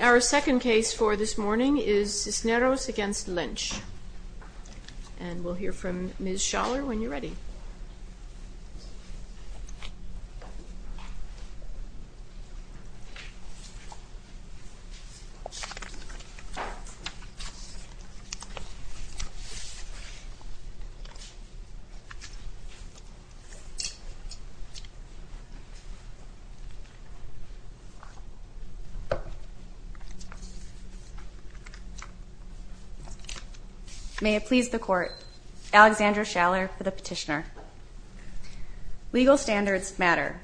Our second case for this morning is Cisneros v. Lynch. We'll hear from Ms. Schaller when you're ready. Ms. Schaller May it please the Court, Alexandra Schaller for the petitioner. Legal standards matter,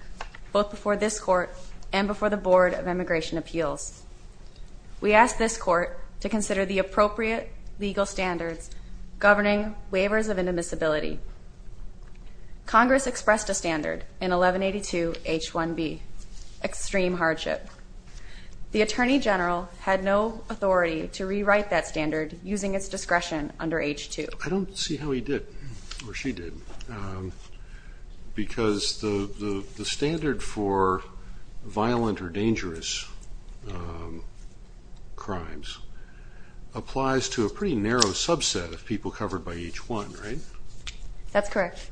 both before this Court and before the Board of Immigration Appeals. We ask this Court to consider the appropriate legal standards governing waivers of indemnizability. Congress expressed a standard in 1182 H1B, extreme hardship. The Attorney General had no authority to rewrite that standard using its discretion under H2. I don't see how he did, or she did, because the standard for violent or dangerous crimes applies to a pretty narrow subset of people covered by H1, right? That's correct.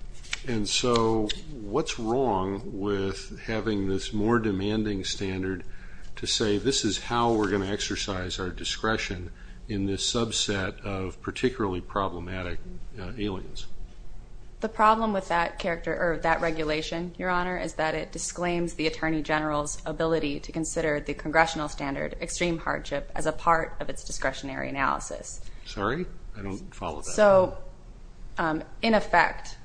And so what's wrong with having this more demanding standard to say this is how we're going to exercise our discretion in this subset of particularly problematic aliens? The problem with that regulation, Your Honor, is that it disclaims the Attorney General's ability to consider the Congressional standard, extreme hardship, as a part of its discretionary analysis. Sorry? I don't follow that. So, in effect,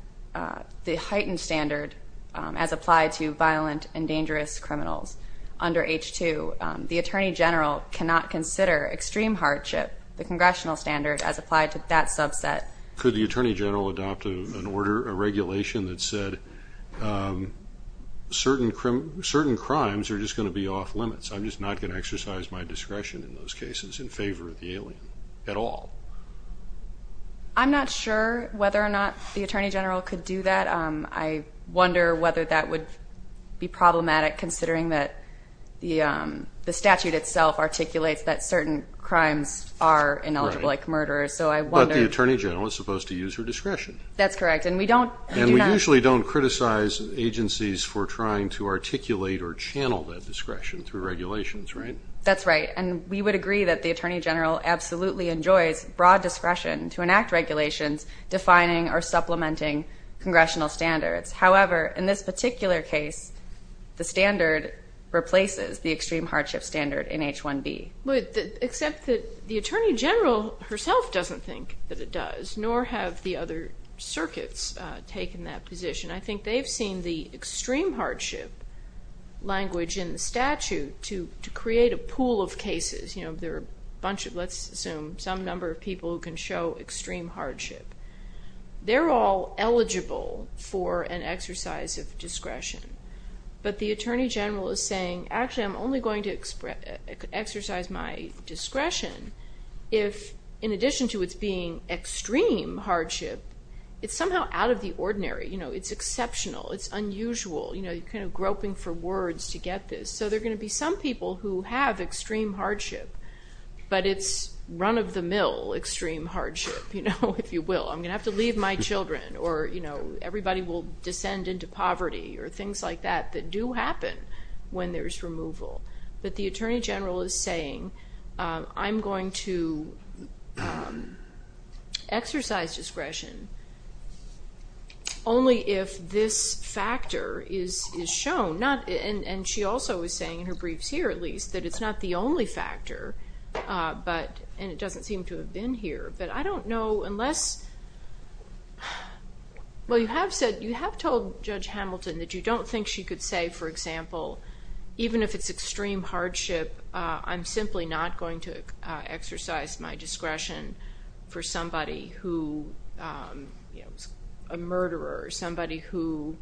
the heightened standard as applied to violent and dangerous criminals under H2, the Attorney General cannot consider extreme hardship, the Congressional standard, as applied to that subset. Could the Attorney General adopt an order, a regulation that said certain crimes are just going to be off limits, I'm just not going to exercise my discretion in those cases in favor of the alien at all? I'm not sure whether or not the Attorney General could do that. I wonder whether that would be problematic, considering that the statute itself articulates that certain crimes are ineligible, like murder. But the Attorney General is supposed to use her discretion. That's correct. And we usually don't criticize agencies for trying to articulate or channel that discretion through regulations, right? That's right. And we would agree that the Attorney General absolutely enjoys broad discretion to enact regulations defining or supplementing Congressional standards. However, in this particular case, the standard replaces the extreme hardship standard in H1B. Except that the Attorney General herself doesn't think that it does, nor have the other circuits taken that position. I think they've seen the extreme hardship language in the statute to create a pool of cases. There are a bunch of, let's assume, some number of people who can show extreme hardship. They're all eligible for an exercise of discretion. But the Attorney General is saying, actually, I'm only going to exercise my discretion if, in addition to its being extreme hardship, it's somehow out of the ordinary. It's exceptional. It's unusual. You're kind of groping for words to get this. So there are going to be some people who have extreme hardship, but it's run-of-the-mill extreme hardship, if you will. I'm going to have to leave my children, or everybody will descend into poverty, or things like that that do happen when there's removal. But the Attorney General is saying, I'm going to exercise discretion only if this factor is shown. And she also is saying in her briefs here, at least, that it's not the only factor, and it doesn't seem to have been here. But I don't know unless – well, you have told Judge Hamilton that you don't think she could say, for example, even if it's extreme hardship, I'm simply not going to exercise my discretion for somebody who is a murderer or somebody who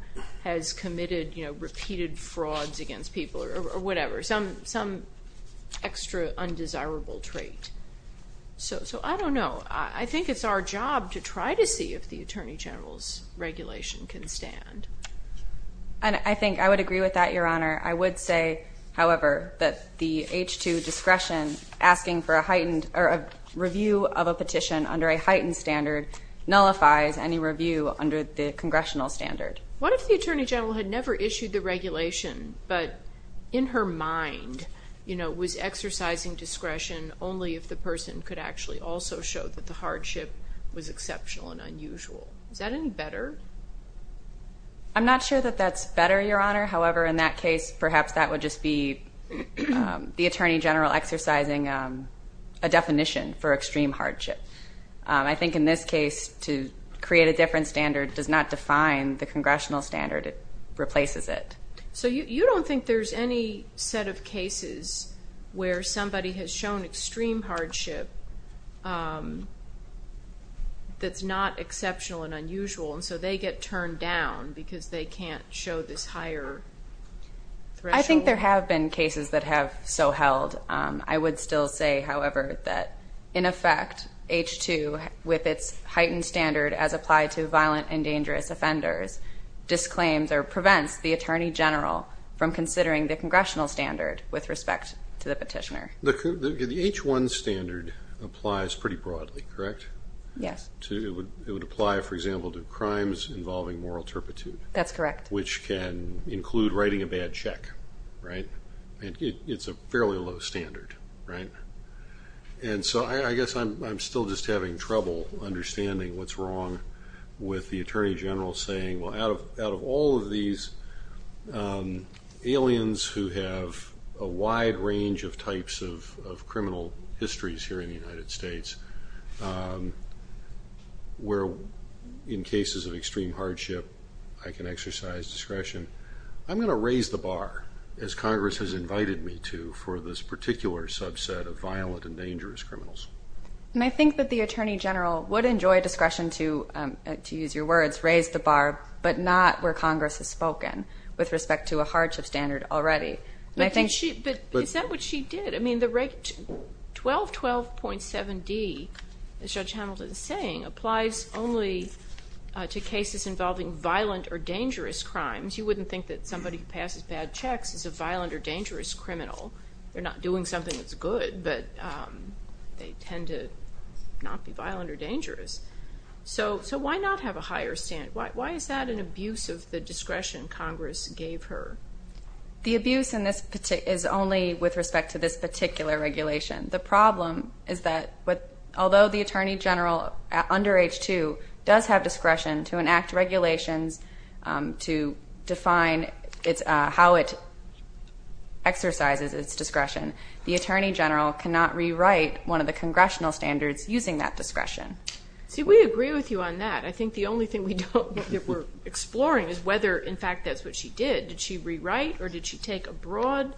has committed repeated frauds against people or whatever, some extra undesirable trait. So I don't know. I think it's our job to try to see if the Attorney General's regulation can stand. And I think I would agree with that, Your Honor. I would say, however, that the H-2 discretion asking for a heightened – or a review of a petition under a heightened standard nullifies any review under the congressional standard. What if the Attorney General had never issued the regulation, but in her mind was exercising discretion only if the person could actually also show that the hardship was exceptional and unusual? Is that any better? I'm not sure that that's better, Your Honor. However, in that case, perhaps that would just be the Attorney General exercising a definition for extreme hardship. I think in this case, to create a different standard does not define the congressional standard. It replaces it. So you don't think there's any set of cases where somebody has shown extreme hardship that's not exceptional and unusual, and so they get turned down because they can't show this higher threshold? I think there have been cases that have so held. I would still say, however, that, in effect, H-2, with its heightened standard, as applied to violent and dangerous offenders, disclaims or prevents the Attorney General from considering the congressional standard with respect to the petitioner. The H-1 standard applies pretty broadly, correct? Yes. It would apply, for example, to crimes involving moral turpitude. That's correct. Which can include writing a bad check, right? It's a fairly low standard, right? And so I guess I'm still just having trouble understanding what's wrong with the Attorney General saying, well, out of all of these aliens who have a wide range of types of criminal histories here in the United States, where in cases of extreme hardship I can exercise discretion, I'm going to raise the bar, as Congress has invited me to, for this particular subset of violent and dangerous criminals. And I think that the Attorney General would enjoy discretion to, to use your words, raise the bar, but not where Congress has spoken with respect to a hardship standard already. But is that what she did? I mean, the 1212.7d, as Judge Hamilton is saying, applies only to cases involving violent or dangerous crimes. You wouldn't think that somebody who passes bad checks is a violent or dangerous criminal. They're not doing something that's good, but they tend to not be violent or dangerous. So why not have a higher standard? Why is that an abuse of the discretion Congress gave her? The abuse is only with respect to this particular regulation. The problem is that although the Attorney General, under H-2, does have discretion to enact regulations to define how it exercises its discretion, the Attorney General cannot rewrite one of the congressional standards using that discretion. See, we agree with you on that. I think the only thing we're exploring is whether, in fact, that's what she did. Did she rewrite or did she take a broad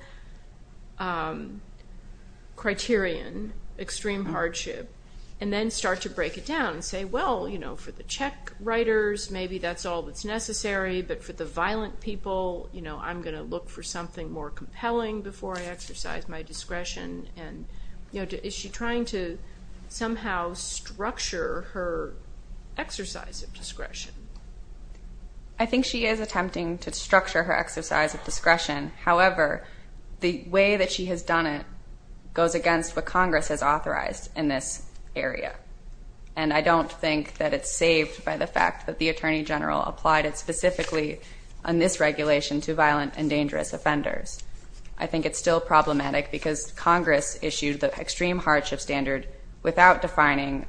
criterion, extreme hardship, and then start to break it down and say, well, you know, for the check writers, maybe that's all that's necessary, but for the violent people, you know, I'm going to look for something more compelling before I exercise my discretion. And, you know, is she trying to somehow structure her exercise of discretion? I think she is attempting to structure her exercise of discretion. However, the way that she has done it goes against what Congress has authorized in this area. And I don't think that it's saved by the fact that the Attorney General applied it specifically on this regulation to violent and dangerous offenders. I think it's still problematic because Congress issued the extreme hardship standard without defining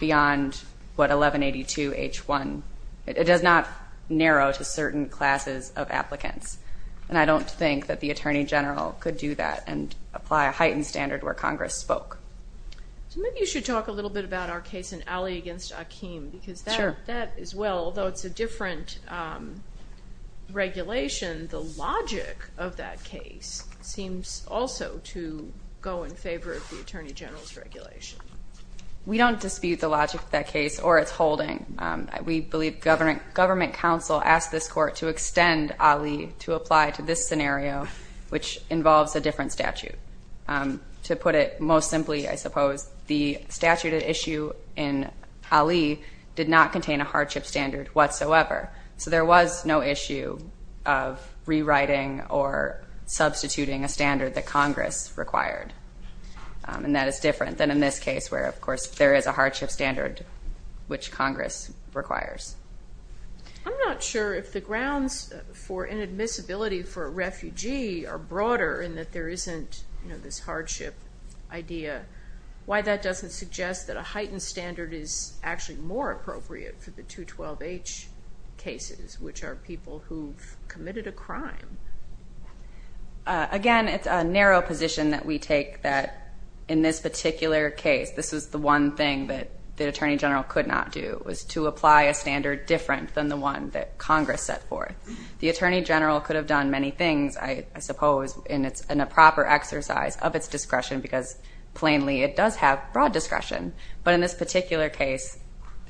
beyond what 1182H1. It does not narrow to certain classes of applicants. And I don't think that the Attorney General could do that and apply a heightened standard where Congress spoke. So maybe you should talk a little bit about our case in Alley against Akeem because that as well, although it's a different regulation, the logic of that case seems also to go in favor of the Attorney General's regulation. We don't dispute the logic of that case or its holding. We believe government counsel asked this court to extend Alley to apply to this scenario, which involves a different statute. To put it most simply, I suppose, the statute at issue in Alley did not contain a hardship standard whatsoever. So there was no issue of rewriting or substituting a standard that Congress required. And that is different than in this case where, of course, there is a hardship standard which Congress requires. I'm not sure if the grounds for inadmissibility for a refugee are broader in that there isn't this hardship idea. Why that doesn't suggest that a heightened standard is actually more appropriate for the 212H cases, which are people who've committed a crime. Again, it's a narrow position that we take that in this particular case, this is the one thing that the Attorney General could not do, was to apply a standard different than the one that Congress set forth. The Attorney General could have done many things, I suppose, in a proper exercise of its discretion because, plainly, it does have broad discretion. But in this particular case,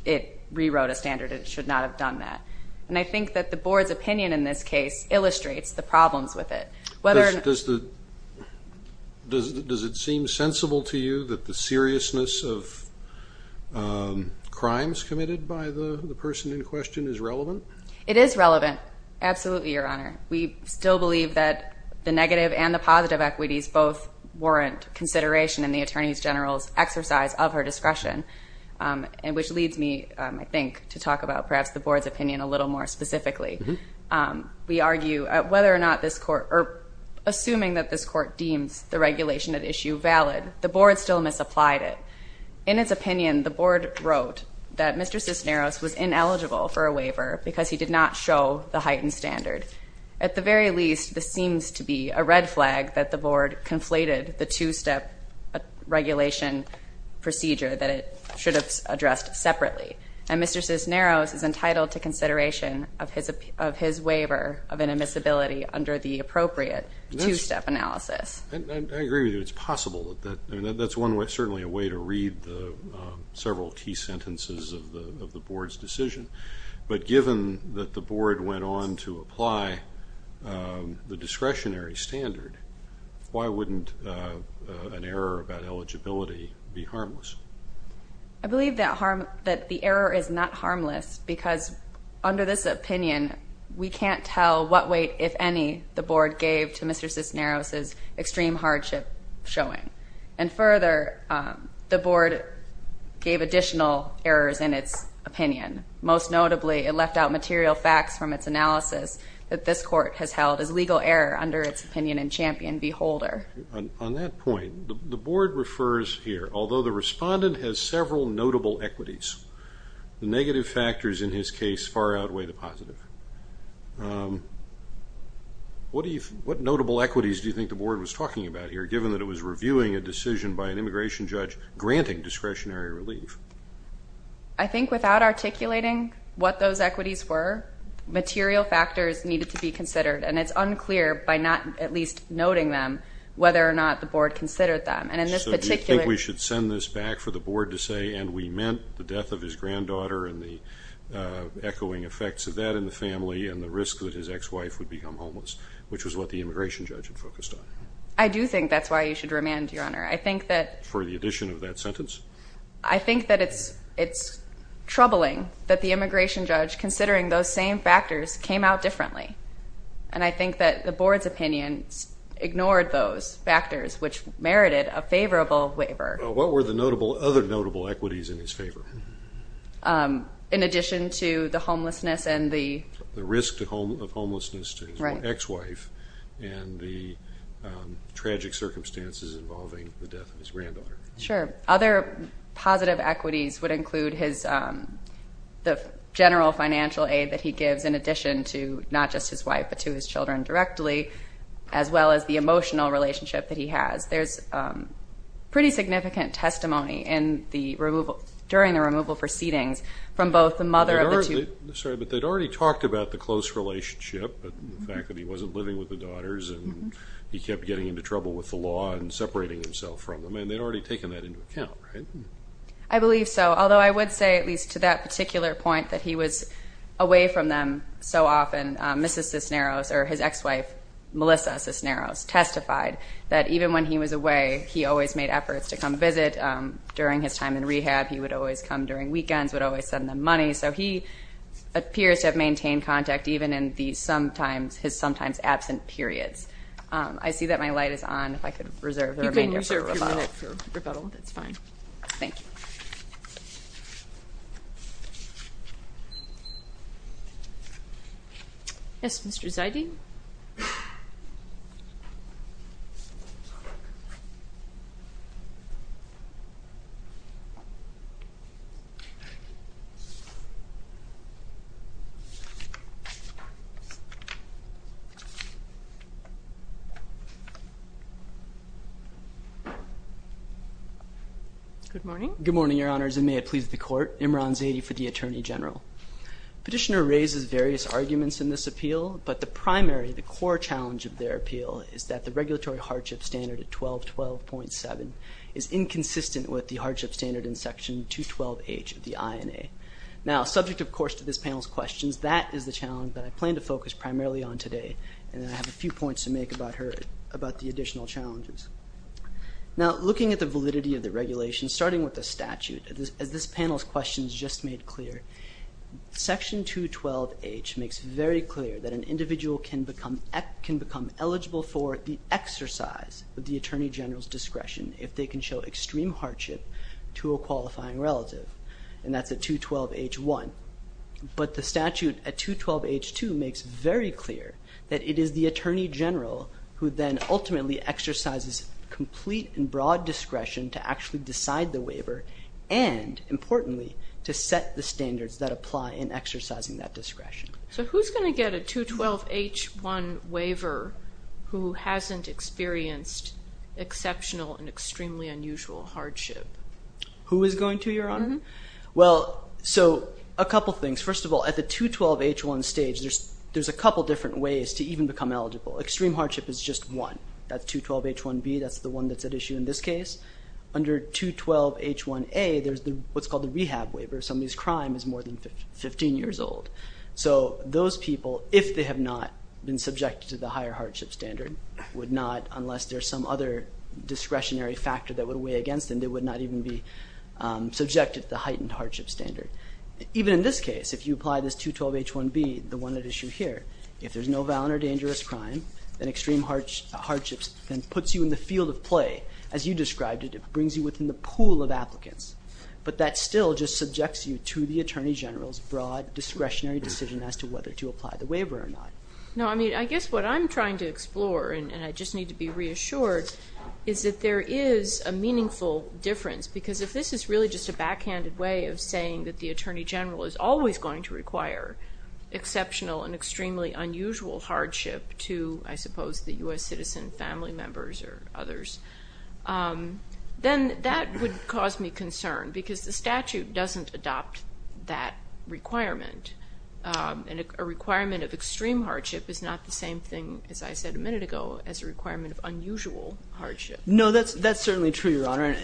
it rewrote a standard. It should not have done that. And I think that the Board's opinion in this case illustrates the problems with it. Does it seem sensible to you that the seriousness of crimes committed by the person in question is relevant? It is relevant. Absolutely, Your Honor. We still believe that the negative and the positive equities both warrant consideration in the Attorney General's exercise of her discretion, which leads me, I think, to talk about perhaps the Board's opinion a little more specifically. We argue whether or not this court, or assuming that this court deems the regulation at issue valid, the Board still misapplied it. In its opinion, the Board wrote that Mr. Cisneros was ineligible for a waiver because he did not show the heightened standard. At the very least, this seems to be a red flag that the Board conflated the two-step regulation procedure that it should have addressed separately. And Mr. Cisneros is entitled to consideration of his waiver of an admissibility under the appropriate two-step analysis. I agree with you. It's possible. That's certainly a way to read several key sentences of the Board's decision. But given that the Board went on to apply the discretionary standard, why wouldn't an error about eligibility be harmless? I believe that the error is not harmless because under this opinion, we can't tell what weight, if any, the Board gave to Mr. Cisneros' extreme hardship showing. And further, the Board gave additional errors in its opinion, most notably it left out material facts from its analysis that this Court has held as legal error under its opinion in Champion v. Holder. On that point, the Board refers here, although the respondent has several notable equities, the negative factors in his case far outweigh the positive. What notable equities do you think the Board was talking about here, given that it was reviewing a decision by an immigration judge granting discretionary relief? I think without articulating what those equities were, material factors needed to be considered, and it's unclear by not at least noting them whether or not the Board considered them. So do you think we should send this back for the Board to say, and we meant the death of his granddaughter and the echoing effects of that in the family and the risk that his ex-wife would become homeless, which was what the immigration judge had focused on? I do think that's why you should remand, Your Honor. For the addition of that sentence? I think that it's troubling that the immigration judge, considering those same factors, came out differently, and I think that the Board's opinion ignored those factors, which merited a favorable waiver. What were the other notable equities in his favor? In addition to the homelessness and the risk of homelessness to his ex-wife and the tragic circumstances involving the death of his granddaughter. Sure. Other positive equities would include the general financial aid that he gives in addition to not just his wife but to his children directly, as well as the emotional relationship that he has. There's pretty significant testimony during the removal proceedings from both the mother of the two. Sorry, but they'd already talked about the close relationship and the fact that he wasn't living with the daughters and he kept getting into trouble with the law and separating himself from them, and they'd already taken that into account, right? I believe so, although I would say, at least to that particular point, that he was away from them so often. Mrs. Cisneros, or his ex-wife, Melissa Cisneros, testified that even when he was away, he always made efforts to come visit. During his time in rehab, he would always come during weekends, would always send them money. So he appears to have maintained contact even in his sometimes absent periods. I see that my light is on. You can reserve your minute for rebuttal. That's fine. Thank you. Yes, Mr. Zidey? Good morning. Good morning, Your Honors, and may it please the Court. Imran Zadey for the Attorney General. Petitioner raises various arguments in this appeal, but the primary, the core challenge of their appeal, is that the regulatory hardship standard at 1212.7 is inconsistent with the hardship standard in Section 212H of the INA. Now, subject, of course, to this panel's questions, that is the challenge that I plan to focus primarily on today, and I have a few points to make about the additional challenges. Now, looking at the validity of the regulations, starting with the statute, as this panel's questions just made clear, Section 212H makes very clear that an individual can become eligible for the exercise of the Attorney General's discretion if they can show extreme hardship to a qualifying relative, and that's at 212H.1. But the statute at 212H.2 makes very clear that it is the Attorney General who then ultimately exercises complete and broad discretion to actually decide the waiver and, importantly, to set the standards that apply in exercising that discretion. So who's going to get a 212H.1 waiver who hasn't experienced exceptional and extremely unusual hardship? Who is going to, Your Honor? Well, so a couple things. First of all, at the 212H.1 stage, there's a couple different ways to even become eligible. Extreme hardship is just one. That's 212H.1b. That's the one that's at issue in this case. Under 212H.1a, there's what's called the rehab waiver. Somebody's crime is more than 15 years old. So those people, if they have not been subjected to the higher hardship standard, would not, unless there's some other discretionary factor that would weigh against them, they would not even be subjected to the heightened hardship standard. Even in this case, if you apply this 212H.1b, the one at issue here, if there's no violent or dangerous crime, then extreme hardship puts you in the field of play. As you described it, it brings you within the pool of applicants. But that still just subjects you to the Attorney General's broad discretionary decision as to whether to apply the waiver or not. No, I mean, I guess what I'm trying to explore, and I just need to be reassured, is that there is a meaningful difference. Because if this is really just a backhanded way of saying that the Attorney General is always going to require exceptional and extremely unusual hardship to, I suppose, the U.S. citizen, family members, or others, then that would cause me concern because the statute doesn't adopt that requirement. And a requirement of extreme hardship is not the same thing, as I said a minute ago, as a requirement of unusual hardship. No, that's certainly true, Your Honor,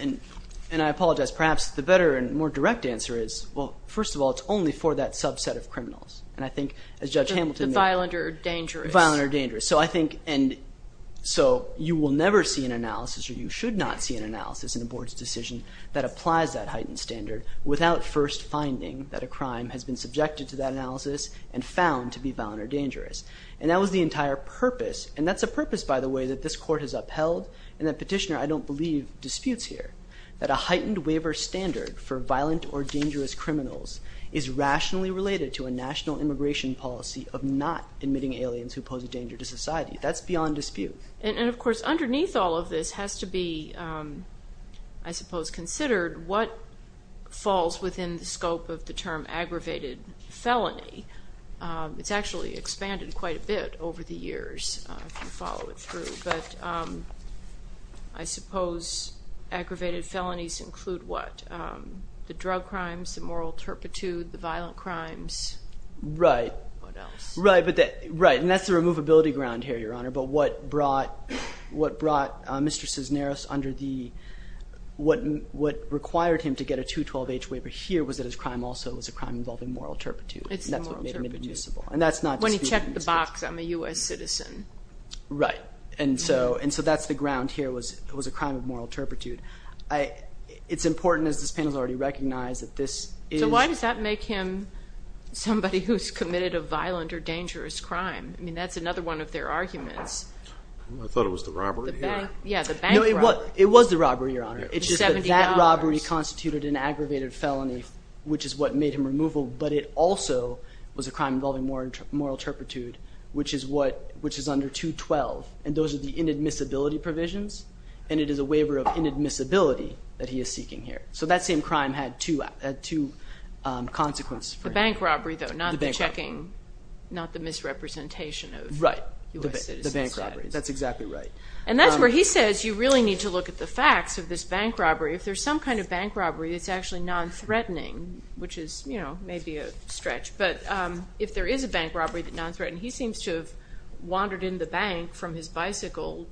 and I apologize. Perhaps the better and more direct answer is, well, first of all, it's only for that subset of criminals. And I think, as Judge Hamilton made clear. The violent or dangerous. Violent or dangerous. So I think, and so you will never see an analysis, or you should not see an analysis in a board's decision that applies that heightened standard and found to be violent or dangerous. And that was the entire purpose. And that's a purpose, by the way, that this Court has upheld, and that Petitioner, I don't believe, disputes here. That a heightened waiver standard for violent or dangerous criminals is rationally related to a national immigration policy of not admitting aliens who pose a danger to society. That's beyond dispute. And, of course, underneath all of this has to be, I suppose, considered what falls within the scope of the term aggravated felony. It's actually expanded quite a bit over the years, if you follow it through. But I suppose aggravated felonies include what? The drug crimes, the moral turpitude, the violent crimes. Right. What else? Right. And that's the removability ground here, Your Honor. But what brought Mr. Cisneros under the, what required him to get a 212H waiver here was that his crime also was a crime involving moral turpitude. And that's not dispute. When he checked the box, I'm a U.S. citizen. Right. And so that's the ground here was a crime of moral turpitude. It's important, as this panel has already recognized, that this is... So why does that make him somebody who's committed a violent or dangerous crime? I mean, that's another one of their arguments. I thought it was the robbery here. Yeah, the bank robbery. No, it was the robbery, Your Honor. It's just that that robbery constituted an aggravated felony, which is what made him removal, but it also was a crime involving moral turpitude, which is under 212, and those are the inadmissibility provisions, and it is a waiver of inadmissibility that he is seeking here. So that same crime had two consequences for him. The bank robbery, though, not the checking. The bank robbery. Not the misrepresentation of U.S. citizens. Right. The bank robbery. That's exactly right. And that's where he says you really need to look at the facts of this bank robbery. If there's some kind of bank robbery that's actually non-threatening, which is, you know, maybe a stretch, but if there is a bank robbery that's non-threatening, he seems to have wandered in the bank from his bicycle,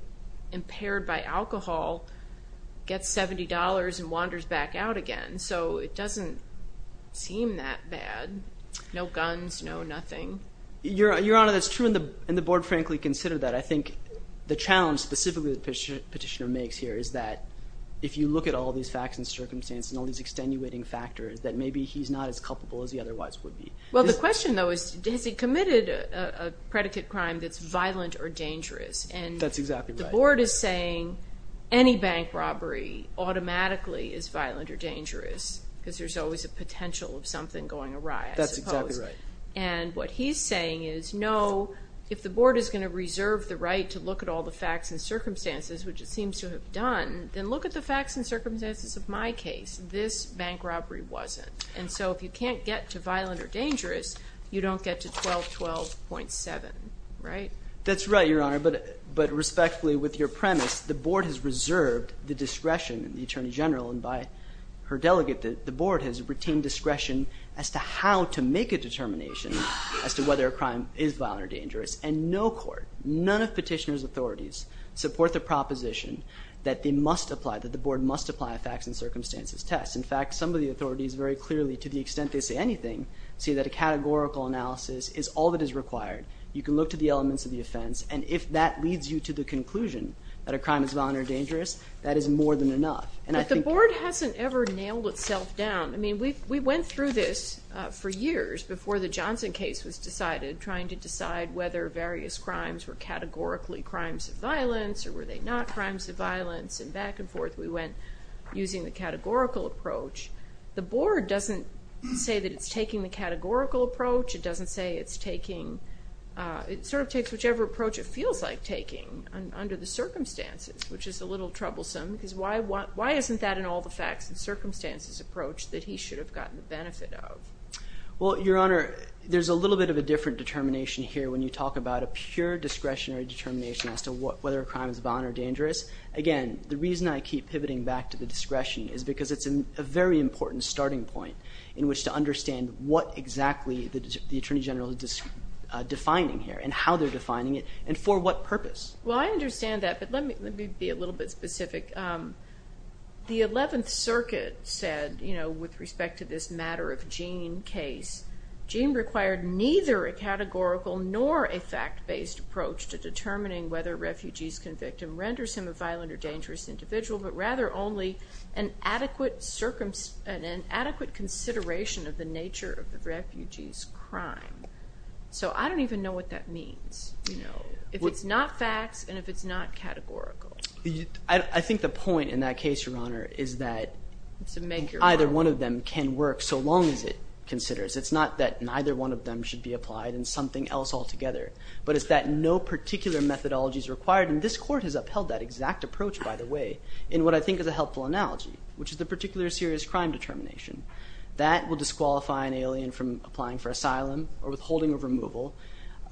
impaired by alcohol, gets $70 and wanders back out again. So it doesn't seem that bad. No guns, no nothing. Your Honor, that's true, and the Board frankly considered that. But I think the challenge specifically the petitioner makes here is that if you look at all these facts and circumstances and all these extenuating factors, that maybe he's not as culpable as he otherwise would be. Well, the question, though, is has he committed a predicate crime that's violent or dangerous? That's exactly right. And the Board is saying any bank robbery automatically is violent or dangerous because there's always a potential of something going awry, I suppose. That's exactly right. And what he's saying is, no, if the Board is going to reserve the right to look at all the facts and circumstances, which it seems to have done, then look at the facts and circumstances of my case. This bank robbery wasn't. And so if you can't get to violent or dangerous, you don't get to 1212.7, right? That's right, Your Honor. But respectfully, with your premise, the Board has reserved the discretion of the Attorney General and by her delegate, the Board has retained discretion as to how to make a determination as to whether a crime is violent or dangerous. And no court, none of petitioner's authorities support the proposition that they must apply, that the Board must apply a facts and circumstances test. In fact, some of the authorities very clearly, to the extent they say anything, say that a categorical analysis is all that is required. You can look to the elements of the offense, and if that leads you to the conclusion that a crime is violent or dangerous, that is more than enough. But the Board hasn't ever nailed itself down. I mean, we went through this for years before the Johnson case was decided, trying to decide whether various crimes were categorically crimes of violence or were they not crimes of violence, and back and forth we went using the categorical approach. The Board doesn't say that it's taking the categorical approach. It doesn't say it's taking – it sort of takes whichever approach it feels like taking under the circumstances, which is a little troublesome because why isn't that an all-the-facts-and-circumstances approach that he should have gotten the benefit of? Well, Your Honor, there's a little bit of a different determination here when you talk about a pure discretionary determination as to whether a crime is violent or dangerous. Again, the reason I keep pivoting back to the discretion is because it's a very important starting point in which to understand what exactly the Attorney General is defining here and how they're defining it and for what purpose. Well, I understand that, but let me be a little bit specific. The 11th Circuit said, you know, with respect to this matter of Gene case, Gene required neither a categorical nor a fact-based approach to determining whether a refugee's convicted renders him a violent or dangerous individual, but rather only an adequate consideration of the nature of the refugee's crime. So I don't even know what that means, you know. If it's not facts and if it's not categorical. I think the point in that case, Your Honor, is that either one of them can work so long as it considers. It's not that neither one of them should be applied in something else altogether, but it's that no particular methodology is required, and this Court has upheld that exact approach, by the way, in what I think is a helpful analogy, which is the particular serious crime determination. That will disqualify an alien from applying for asylum or withholding of removal.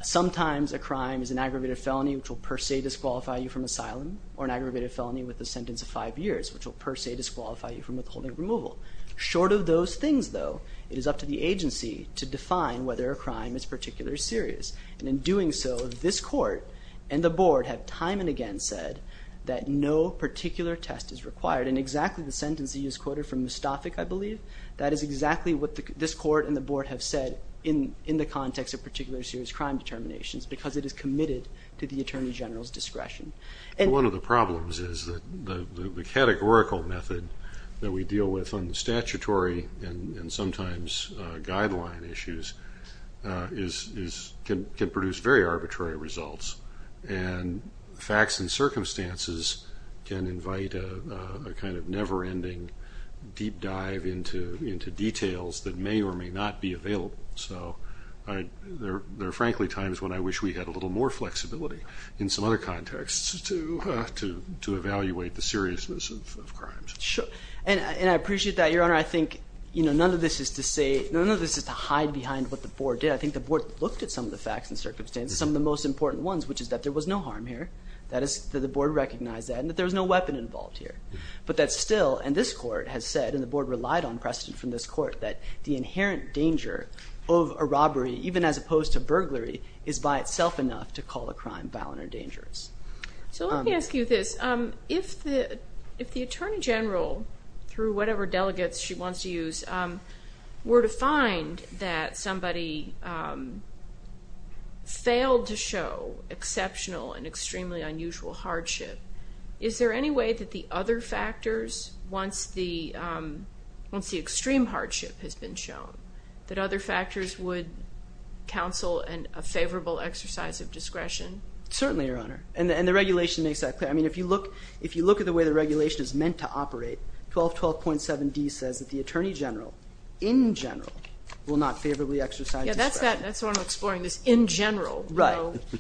Sometimes a crime is an aggravated felony, which will per se disqualify you from asylum, or an aggravated felony with a sentence of five years, which will per se disqualify you from withholding removal. Short of those things, though, it is up to the agency to define whether a crime is particularly serious, and in doing so, this Court and the Board have time and again said that no particular test is required, and exactly the sentence that you just quoted from Mustafik, I believe, that is exactly what this Court and the Board have said in the context of particular serious crime determinations because it is committed to the Attorney General's discretion. One of the problems is that the categorical method that we deal with on the statutory and sometimes guideline issues can produce very arbitrary results, and facts and circumstances can invite a kind of never-ending deep dive into details that may or may not be available. So there are frankly times when I wish we had a little more flexibility in some other contexts to evaluate the seriousness of crimes. Sure, and I appreciate that, Your Honor. I think none of this is to say, none of this is to hide behind what the Board did. I think the Board looked at some of the facts and circumstances, some of the most important ones, which is that there was no harm here. The Board recognized that, and that there was no weapon involved here. But that still, and this Court has said, and the Board relied on precedent from this Court, that the inherent danger of a robbery, even as opposed to burglary, is by itself enough to call a crime violent or dangerous. So let me ask you this. If the Attorney General, through whatever delegates she wants to use, were to find that somebody failed to show exceptional and extremely unusual hardship, is there any way that the other factors, once the extreme hardship has been shown, that other factors would counsel a favorable exercise of discretion? Certainly, Your Honor, and the regulation makes that clear. I mean, if you look at the way the regulation is meant to operate, 1212.7d says that the Attorney General, in general, will not favorably exercise discretion. Yeah, that's what I'm exploring, this in general. Right.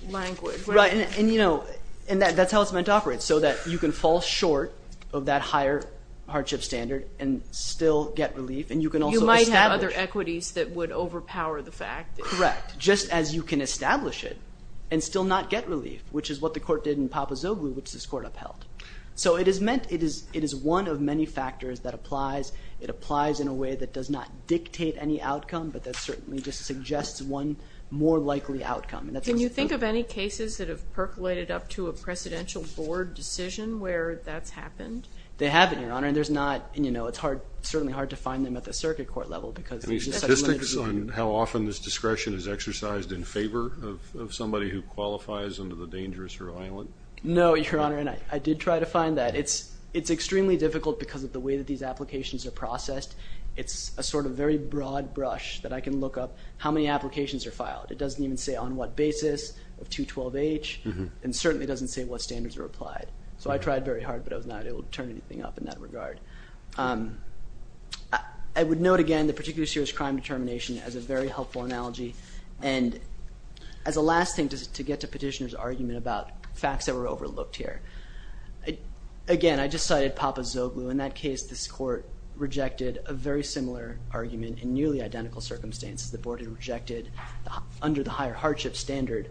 Language. Right, and, you know, that's how it's meant to operate, so that you can fall short of that higher hardship standard and still get relief, and you can also establish. You might have other equities that would overpower the fact that. Correct, just as you can establish it and still not get relief, which is what the court did in Papazoglu, which this court upheld. So it is meant, it is one of many factors that applies. It applies in a way that does not dictate any outcome, but that certainly just suggests one more likely outcome. Can you think of any cases that have percolated up to a Presidential Board decision where that's happened? They haven't, Your Honor, and there's not, you know, it's certainly hard to find them at the circuit court level because. Any statistics on how often this discretion is exercised in favor of somebody who qualifies under the dangerous or violent? No, Your Honor, and I did try to find that. It's extremely difficult because of the way that these applications are processed. It's a sort of very broad brush that I can look up how many applications are filed. It doesn't even say on what basis of 212H, and certainly doesn't say what standards are applied. So I tried very hard, but I was not able to turn anything up in that regard. I would note again the particularly serious crime determination as a very helpful analogy, and as a last thing to get to Petitioner's argument about facts that were overlooked here. Again, I just cited Papa Zoglu. In that case, this Court rejected a very similar argument in nearly identical circumstances. The Board had rejected, under the higher hardship standard,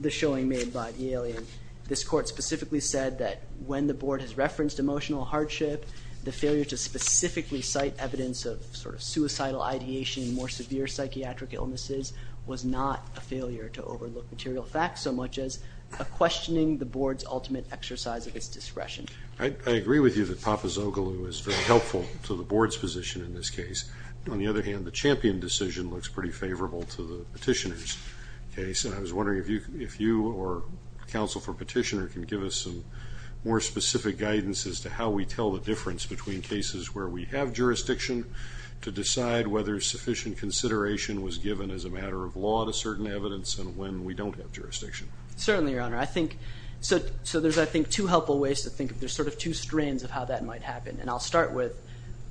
the showing made by the alien. This Court specifically said that when the Board has referenced emotional hardship, the failure to specifically cite evidence of suicidal ideation and more severe psychiatric illnesses was not a failure to overlook material facts so much as a questioning the Board's ultimate exercise of its discretion. I agree with you that Papa Zoglu is very helpful to the Board's position in this case. On the other hand, the Champion decision looks pretty favorable to the Petitioner's case, and I was wondering if you or counsel for Petitioner can give us some more specific guidance as to how we tell the difference between cases where we have jurisdiction to decide whether sufficient consideration was given as a matter of law to certain evidence and when we don't have jurisdiction. Certainly, Your Honor. So there's, I think, two helpful ways to think of this, sort of two strands of how that might happen, and I'll start with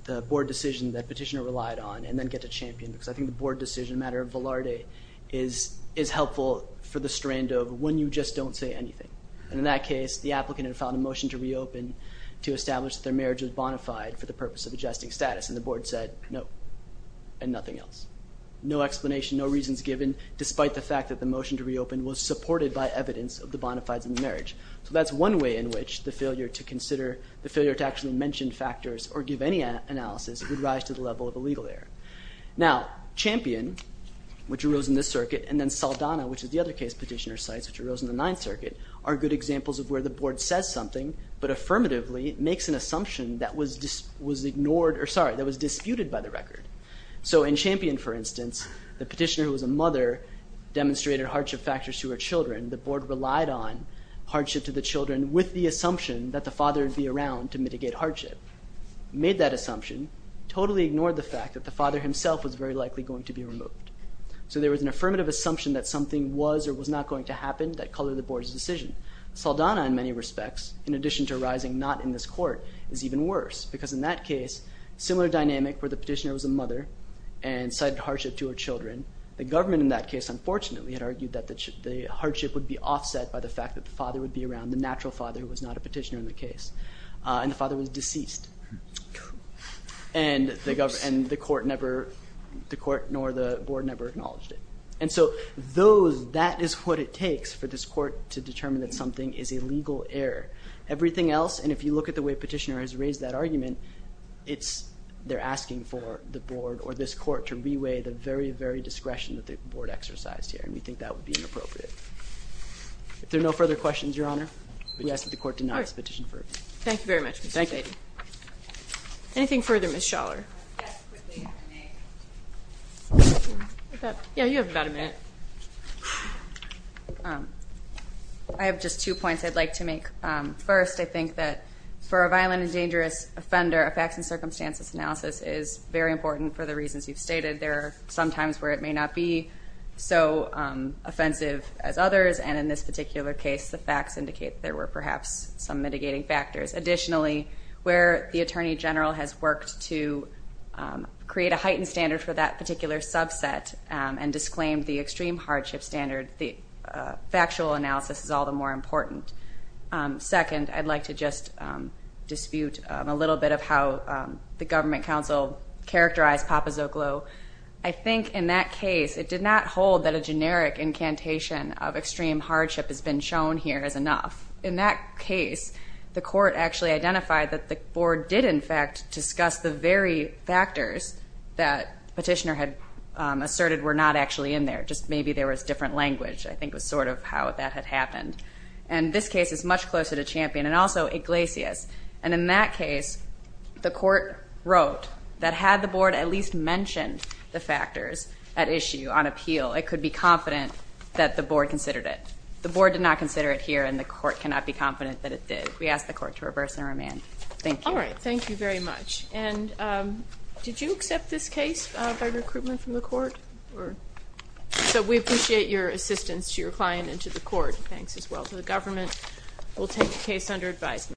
the Board decision that Petitioner relied on and then get to Champion because I think the Board decision, a matter of velarde, is helpful for the strand of when you just don't say anything. And in that case, the applicant had filed a motion to reopen to establish that their marriage was bona fide for the purpose of adjusting status, and the Board said no and nothing else. No explanation, no reasons given, despite the fact that the motion to reopen was supported by evidence of the bona fides in the marriage. So that's one way in which the failure to consider, the failure to actually mention factors or give any analysis would rise to the level of a legal error. Now, Champion, which arose in this circuit, and then Saldana, which is the other case Petitioner cites, which arose in the Ninth Circuit, are good examples of where the Board says something but affirmatively makes an assumption that was ignored, or sorry, that was disputed by the record. So in Champion, for instance, the Petitioner, who was a mother, demonstrated hardship factors to her children. The Board relied on hardship to the children with the assumption that the father would be around to mitigate hardship. Made that assumption, totally ignored the fact that the father himself was very likely going to be removed. So there was an affirmative assumption that something was or was not going to happen that colored the Board's decision. Saldana, in many respects, in addition to arising not in this court, is even worse, because in that case, similar dynamic where the Petitioner was a mother and cited hardship to her children. The government in that case, unfortunately, had argued that the hardship would be offset by the fact that the father would be around, the natural father who was not a Petitioner in the case. And the father was deceased. And the court nor the Board never acknowledged it. And so that is what it takes for this court to determine that something is a legal error. Everything else, and if you look at the way Petitioner has raised that argument, they're asking for the Board or this court to reweigh the very, very discretion that the Board exercised here, and we think that would be inappropriate. If there are no further questions, Your Honor, we ask that the court deny this petition further. Thank you very much, Mr. Spady. Thank you. Anything further, Ms. Schaller? Yes, quickly, if you may. Yeah, you have about a minute. I have just two points I'd like to make. First, I think that for a violent and dangerous offender, a facts and circumstances analysis is very important for the reasons you've stated. There are some times where it may not be so offensive as others, and in this particular case the facts indicate there were perhaps some mitigating factors. Additionally, where the Attorney General has worked to create a heightened standard for that particular subset and disclaimed the extreme hardship standard, the factual analysis is all the more important. Second, I'd like to just dispute a little bit of how the Government Counsel characterized Papazoglou. I think in that case it did not hold that a generic incantation of extreme hardship has been shown here as enough. In that case, the court actually identified that the Board did in fact discuss the very factors that the petitioner had asserted were not actually in there, just maybe there was different language, I think was sort of how that had happened. And this case is much closer to Champion and also Iglesias. And in that case, the court wrote that had the Board at least mentioned the factors at issue on appeal, it could be confident that the Board considered it. The Board did not consider it here, and the court cannot be confident that it did. We ask the court to reverse and remand. Thank you. All right. Thank you very much. And did you accept this case by recruitment from the court? So we appreciate your assistance to your client and to the court. Thanks as well. So the government will take the case under advisement.